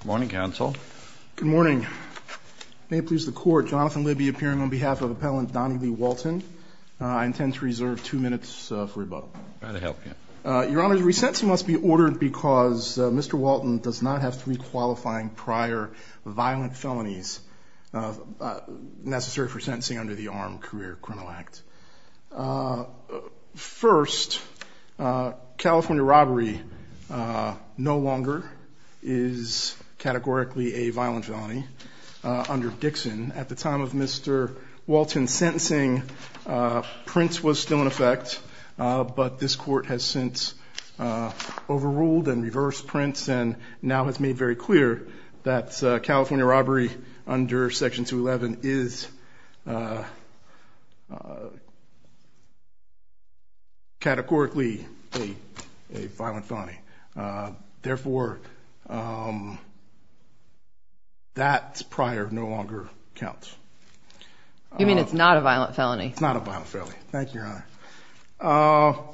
Good morning, counsel. Good morning. May it please the court, Jonathan Libby appearing on behalf of appellant Donnie Lee Walton. I intend to reserve two minutes for rebuttal. Your Honor, the resentencing must be ordered because Mr. Walton does not have three qualifying prior violent felonies necessary for sentencing under the Armed Career Criminal Act. First, California robbery no longer is categorically a violent felony under Dixon. At the time of Mr. Walton's sentencing, Prince was still in effect, but this court has since overruled and reversed Prince and now has made very clear that California robbery under Section 211 is categorically a violent felony. Therefore, that prior no longer counts. You mean it's not a violent felony? It's not a violent felony. Thank you, Your Honor.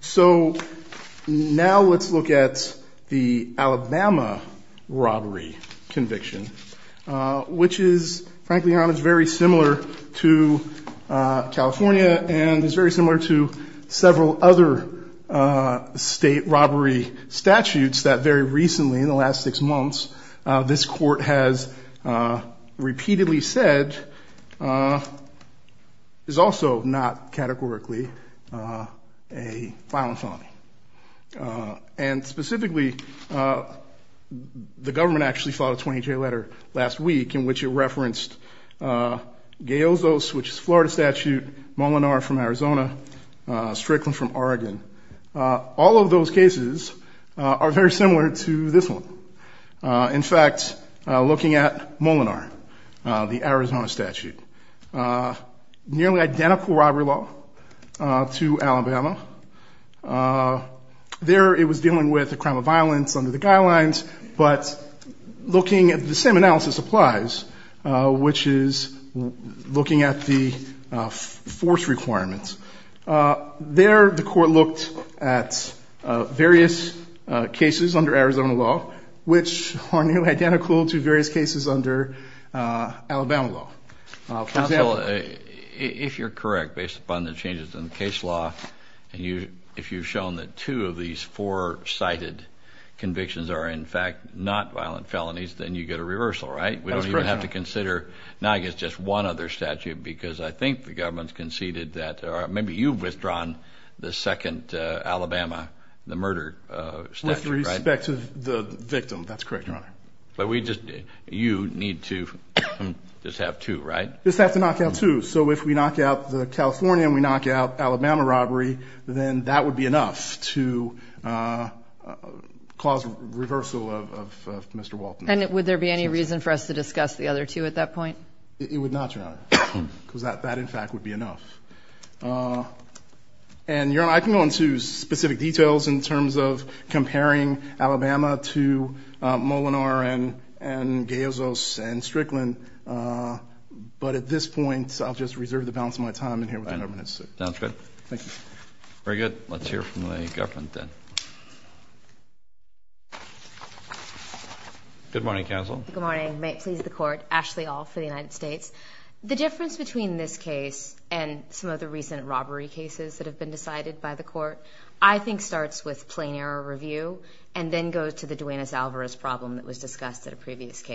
So now let's look at the Alabama robbery conviction, which is, frankly Your Honor, is very similar to California and is very similar to several other state robbery statutes that very recently, in the last six months, this court has categorically a violent felony. And specifically, the government actually filed a 20-J letter last week in which it referenced Gayozos, which is a Florida statute, Molinar from Arizona, Strickland from Oregon. All of those cases are very similar to this one. In fact, looking at Molinar, the Arizona statute, nearly identical robbery law to Alabama. There, it was dealing with a crime of violence under the guidelines, but looking at the same analysis applies, which is looking at the force requirements. There, the court looked at various cases under Arizona law, which are nearly identical to various cases under Alabama law. Counsel, if you're correct, based upon the changes in the case law, and if you've shown that two of these four cited convictions are, in fact, not violent felonies, then you get a reversal, right? We don't even have to consider, now I guess, just one other statute, because I think the government's conceded that maybe you've withdrawn the second Alabama, the murder statute, right? With respect to the knockout two, so if we knock out the California and we knock out Alabama robbery, then that would be enough to cause reversal of Mr. Walton. And would there be any reason for us to discuss the other two at that point? It would not, Your Honor, because that, in fact, would be enough. And Your Honor, I can go into specific details in terms of comparing Alabama to Molinar and Gayozos and others, but at this point, I'll just reserve the balance of my time and hear what the government has to say. Sounds good. Thank you. Very good. Let's hear from the government then. Good morning, counsel. Good morning. May it please the court. Ashley All for the United States. The difference between this case and some of the recent robbery cases that have been decided by the court, I think, starts with plain error review and then goes to the Duenas-Alvarez problem that was raised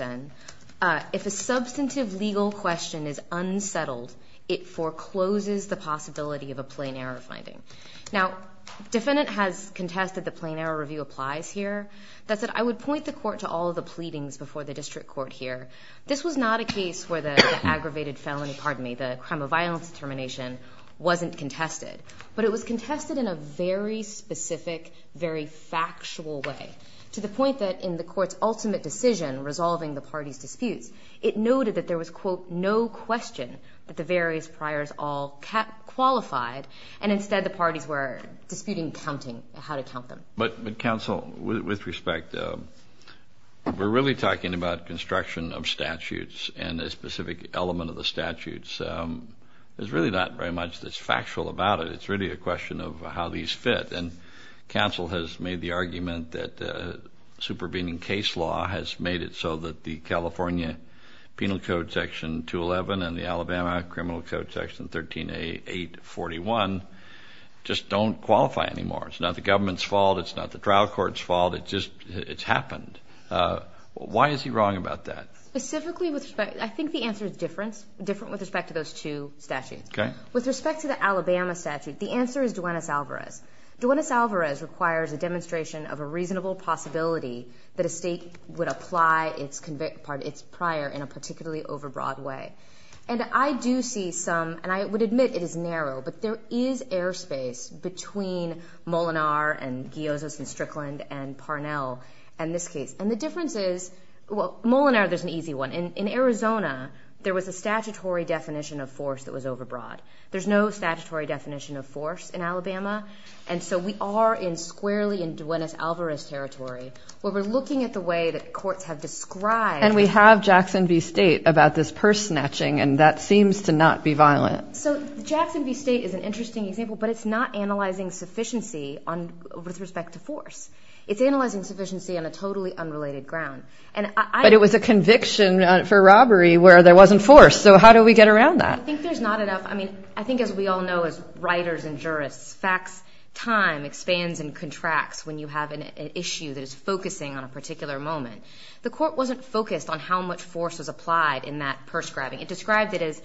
then. If a substantive legal question is unsettled, it forecloses the possibility of a plain error finding. Now, defendant has contested the plain error review applies here. That said, I would point the court to all of the pleadings before the district court here. This was not a case where the aggravated felony, pardon me, the crime of violence determination wasn't contested, but it was contested in a very specific, very factual way, to the point that in the party's disputes, it noted that there was, quote, no question that the various priors all qualified and instead the parties were disputing counting, how to count them. But counsel, with respect, we're really talking about construction of statutes and a specific element of the statutes. There's really not very much that's factual about it. It's really a question of how these fit and counsel has made the argument that supervening case law has made it so that the California Penal Code section 211 and the Alabama Criminal Code section 13a 841 just don't qualify anymore. It's not the government's fault. It's not the trial court's fault. It just, it's happened. Why is he wrong about that? Specifically, with respect, I think the answer is different, different with respect to those two statutes. Okay. With respect to the Alabama statute, the Alvarez requires a demonstration of a reasonable possibility that a state would apply its prior in a particularly overbroad way. And I do see some, and I would admit it is narrow, but there is airspace between Molinar and Gyozas and Strickland and Parnell and this case. And the difference is, well, Molinar, there's an easy one. In Arizona, there was a statutory definition of force that was overbroad. There's no statutory definition of force in Alabama. And so we are in squarely in Duenas Alvarez territory, where we're looking at the way that courts have described... And we have Jackson v. State about this purse snatching and that seems to not be violent. So Jackson v. State is an interesting example, but it's not analyzing sufficiency with respect to force. It's analyzing sufficiency on a totally unrelated ground. But it was a conviction for robbery where there wasn't force, so how do we get around that? I think there's not enough... I mean, I think as we all know as writers and jurists, facts, time expands and contracts when you have an issue that is focusing on a particular moment. The court wasn't focused on how much force was applied in that purse grabbing. It described it as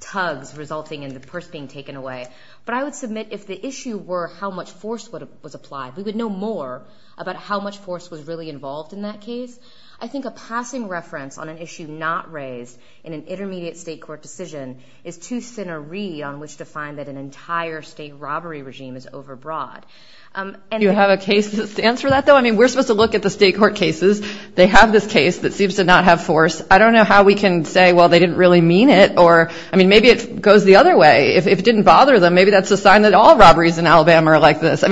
tugs resulting in the purse being taken away. But I would submit if the issue were how much force was applied, we would know more about how much force was really involved in that case. I think a passing reference on an issue not raised in an intermediate state court decision is too thin a reed on which to find that an entire state robbery regime is overbroad. And you have a case that stands for that, though? We're supposed to look at the state court cases. They have this case that seems to not have force. I don't know how we can say, well, they didn't really mean it or... Maybe it goes the other way. If it didn't bother them, maybe that's a sign that all robberies in Alabama are like this. I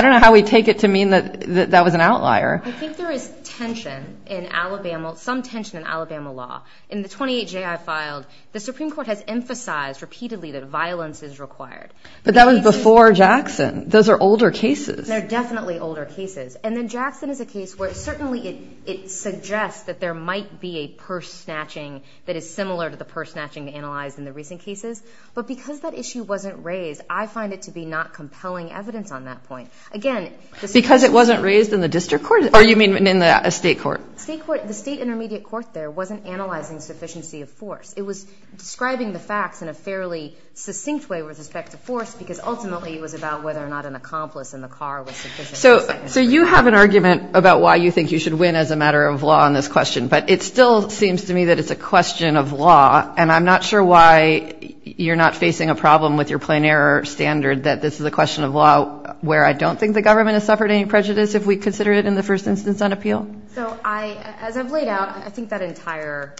don't know how we take it to mean that that was an outlier. I think there is tension in Alabama, some tension in Alabama law. In the 28J I filed, the Supreme Court has emphasized repeatedly that violence is required. But that was before Jackson. Those are older cases. They're definitely older cases. And then Jackson is a case where certainly it suggests that there might be a purse snatching that is similar to the purse snatching analyzed in the recent cases. But because that issue wasn't raised, I find it to be not compelling evidence on that point. Again... Because it wasn't raised in the district court? Or you mean in the state court? State court. The state intermediate court there wasn't analyzing sufficiency of force. It was describing the facts in a fairly succinct way with respect to force, because ultimately it was about whether or not an accomplice in the car was sufficient. So you have an argument about why you think you should win as a matter of law on this question, but it still seems to me that it's a question of law. And I'm not sure why you're not facing a problem with your plein air standard that this is a question of law where I don't think the government has suffered any prejudice if we consider it in the first instance on appeal? So as I've laid out, I think that entire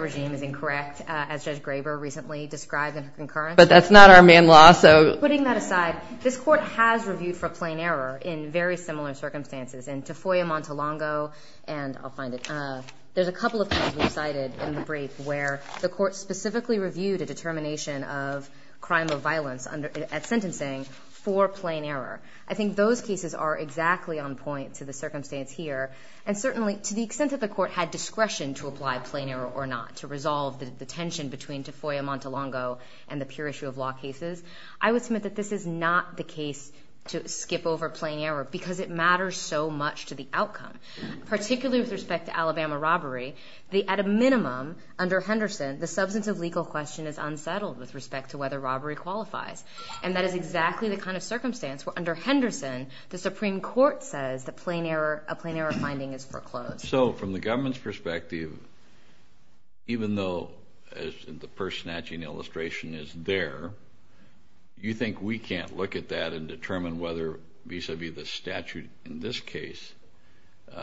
regime is incorrect, as Judge Graber recently described in her concurrence. But that's not our main law, so... Putting that aside, this court has reviewed for plein air in very similar circumstances. In Tafoya Montelongo and... I'll find it. There's a couple of cases we cited in the brief where the court specifically reviewed a determination of crime of violence at sentencing for plein air. I think those cases are exactly on point to the circumstance here. And certainly, to the extent that the court had discretion to apply plein air or not, to resolve the tension between Tafoya Montelongo and the pure issue of law cases, I would submit that this is not the case to skip over plein air because it matters so much to the outcome, particularly with respect to Alabama robbery. At a minimum, under Henderson, the substance of legal question is unsettled with respect to whether robbery qualifies. And that is exactly the kind of circumstance where under Henderson, the Supreme Court says the plein air... A plein air finding is foreclosed. So, from the government's perspective, even though, as the purse snatching illustration is there, you think we can't look at that and determine whether vis a vis the statute in this case,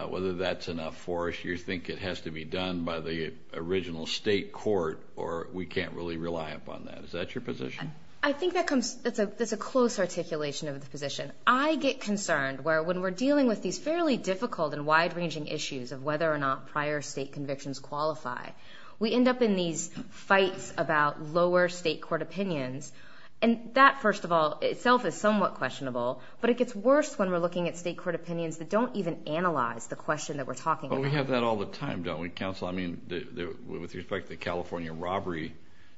whether that's enough for us, you think it has to be done by the original state court or we can't really rely upon that. Is that your position? I think that comes... That's a close articulation of the position. I get concerned where when we're dealing with these fairly difficult and wide ranging issues of whether or not prior state convictions qualify, we end up in these fights about lower state court opinions. And that, first of all, itself is somewhat questionable, but it gets worse when we're looking at state court opinions that don't even analyze the question that we're talking about. But we have that all the time, don't we, counsel? With respect to the California robbery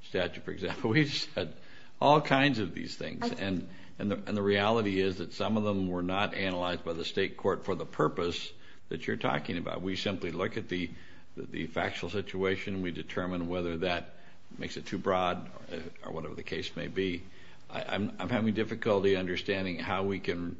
statute, for example, we've had all kinds of these things. And the reality is that some of them were not analyzed by the state court for the purpose that you're talking about. We simply look at the factual situation, we determine whether that makes it too broad or whatever the case may be. I'm having difficulty understanding how we can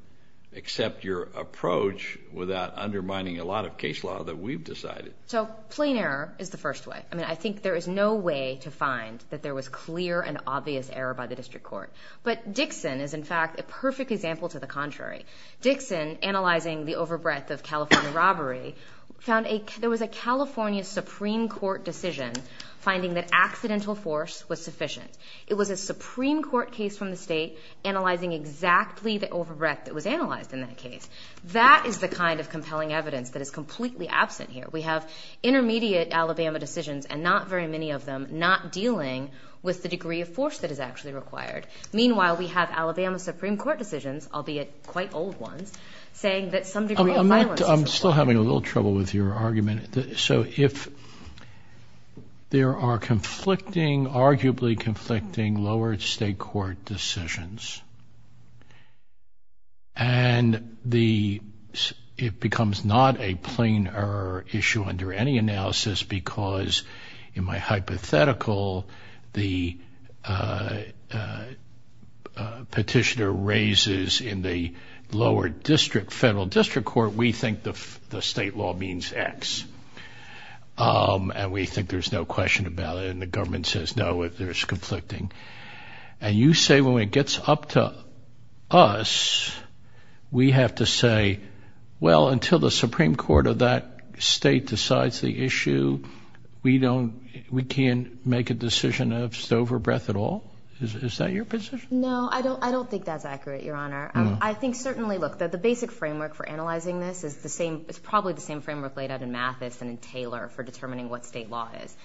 accept your approach without undermining a lot of case law that we've decided. So, plein air is the first way. I think there is no way to find that there was clear and obvious error by the district court. But Dixon is, in fact, a perfect example to the contrary. Dixon, analyzing the over breadth of California robbery, found there was a California Supreme Court decision finding that accidental force was sufficient. It was a Supreme Court case from the state analyzing exactly the over breadth that was analyzed in that case. That is the kind of compelling evidence that is completely absent here. We have intermediate Alabama decisions, and not very many of them, not dealing with the degree of force that is actually required. Meanwhile, we have Alabama Supreme Court decisions, albeit quite old ones, saying that some degree of violence is required. I'm still having a little trouble with your argument. So, there are conflicting, arguably conflicting, lower state court decisions. And it becomes not a plein air issue under any analysis because in my hypothetical, the petitioner raises in the lower district, federal district court, we think the state law means X. And we think there's no question about it. And the government says, no, there's conflicting. And you say, when it gets up to us, we have to say, well, until the Supreme Court of that state decides the issue, we don't, we can't make a decision of sober breadth at all. Is that your position? No, I don't think that's accurate, Your Honor. I think certainly, look, that the basic framework for analyzing this is the same, it's probably the same framework laid out in Mathis and in Taylor for determining what state law is.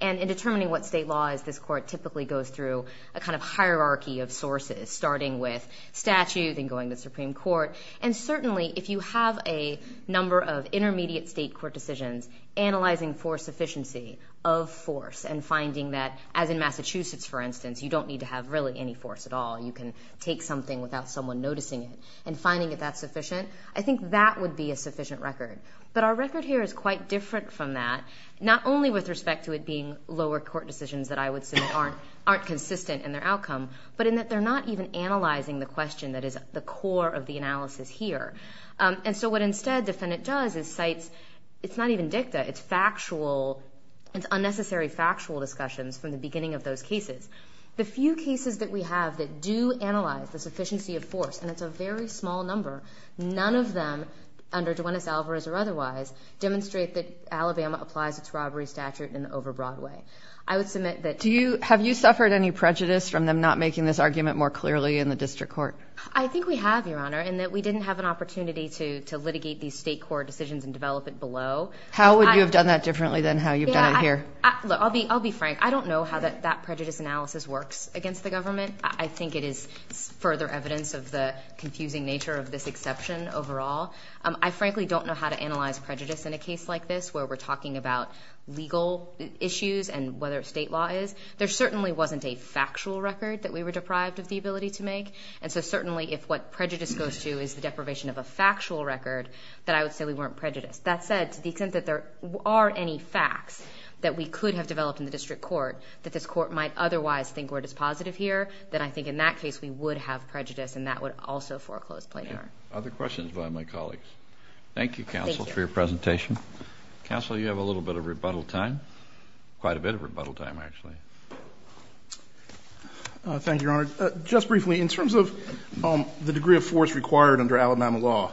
And in determining what state law is, this court typically goes through a kind of hierarchy of sources, starting with statute, then going to Supreme Court. And certainly, if you have a number of intermediate state court decisions, analyzing for sufficiency of force and finding that, as in Massachusetts, for instance, you don't need to have really any force at all, you can take something without someone noticing it, and finding it that sufficient, I think that would be a sufficient record. But our record here is quite different from that, not only with respect to it being lower court decisions that I would say aren't consistent in their outcome, but in that they're not even in the analysis here. And so what instead the defendant does is cites, it's not even dicta, it's factual, it's unnecessary factual discussions from the beginning of those cases. The few cases that we have that do analyze the sufficiency of force, and it's a very small number, none of them, under Duenas Alvarez or otherwise, demonstrate that Alabama applies its robbery statute in an over broad way. I would submit that... Have you suffered any prejudice from them not making this argument more clearly in the district court? I think we have, Your Honor, in that we didn't have an opportunity to litigate these state court decisions and develop it below. How would you have done that differently than how you've done it here? I'll be frank, I don't know how that prejudice analysis works against the government. I think it is further evidence of the confusing nature of this exception overall. I frankly don't know how to analyze prejudice in a case like this where we're talking about legal issues and whether state law is. There certainly wasn't a factual record that we were deprived of the ability to make. And so certainly if what prejudice goes to is the deprivation of a factual record, that I would say we weren't prejudiced. That said, to the extent that there are any facts that we could have developed in the district court, that this court might otherwise think we're dispositive here, then I think in that case, we would have prejudice and that would also foreclose plaintiff. Other questions by my colleagues. Thank you, Counsel, for your presentation. Counsel, you have a little bit of rebuttal time, quite a bit of rebuttal time, actually. Thank you, Your Honor. Just briefly, in terms of the degree of force required under Alabama law,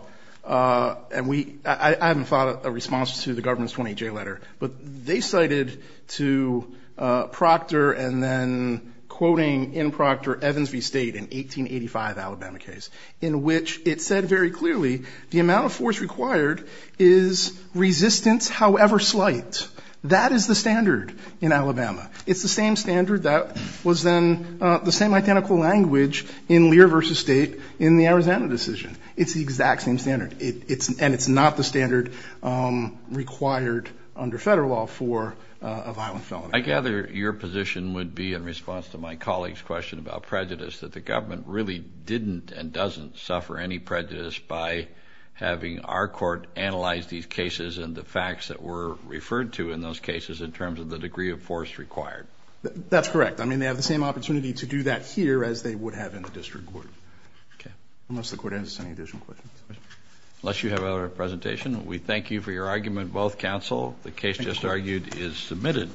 and I haven't thought of a response to the government's 28J letter, but they cited to Proctor and then quoting in Proctor Evans v. State in 1885 Alabama case, in which it said very clearly the amount of force required is resistance, however slight. That is the standard in Alabama. It's the same standard that was then the same identical language in Lear v. State in the Arizona decision. It's the exact same standard. It's, and it's not the standard required under federal law for a violent felony. I gather your position would be in response to my colleague's question about prejudice, that the government really didn't and doesn't suffer any prejudice by having our court analyze these cases and the facts that were referred to in those cases in terms of the degree of force required. That's correct. I mean, they have the same opportunity to do that here as they would have in the district court. Okay. Unless the court has any additional questions. Unless you have other presentation, we thank you for your argument, both counsel. The case just argued is submitted.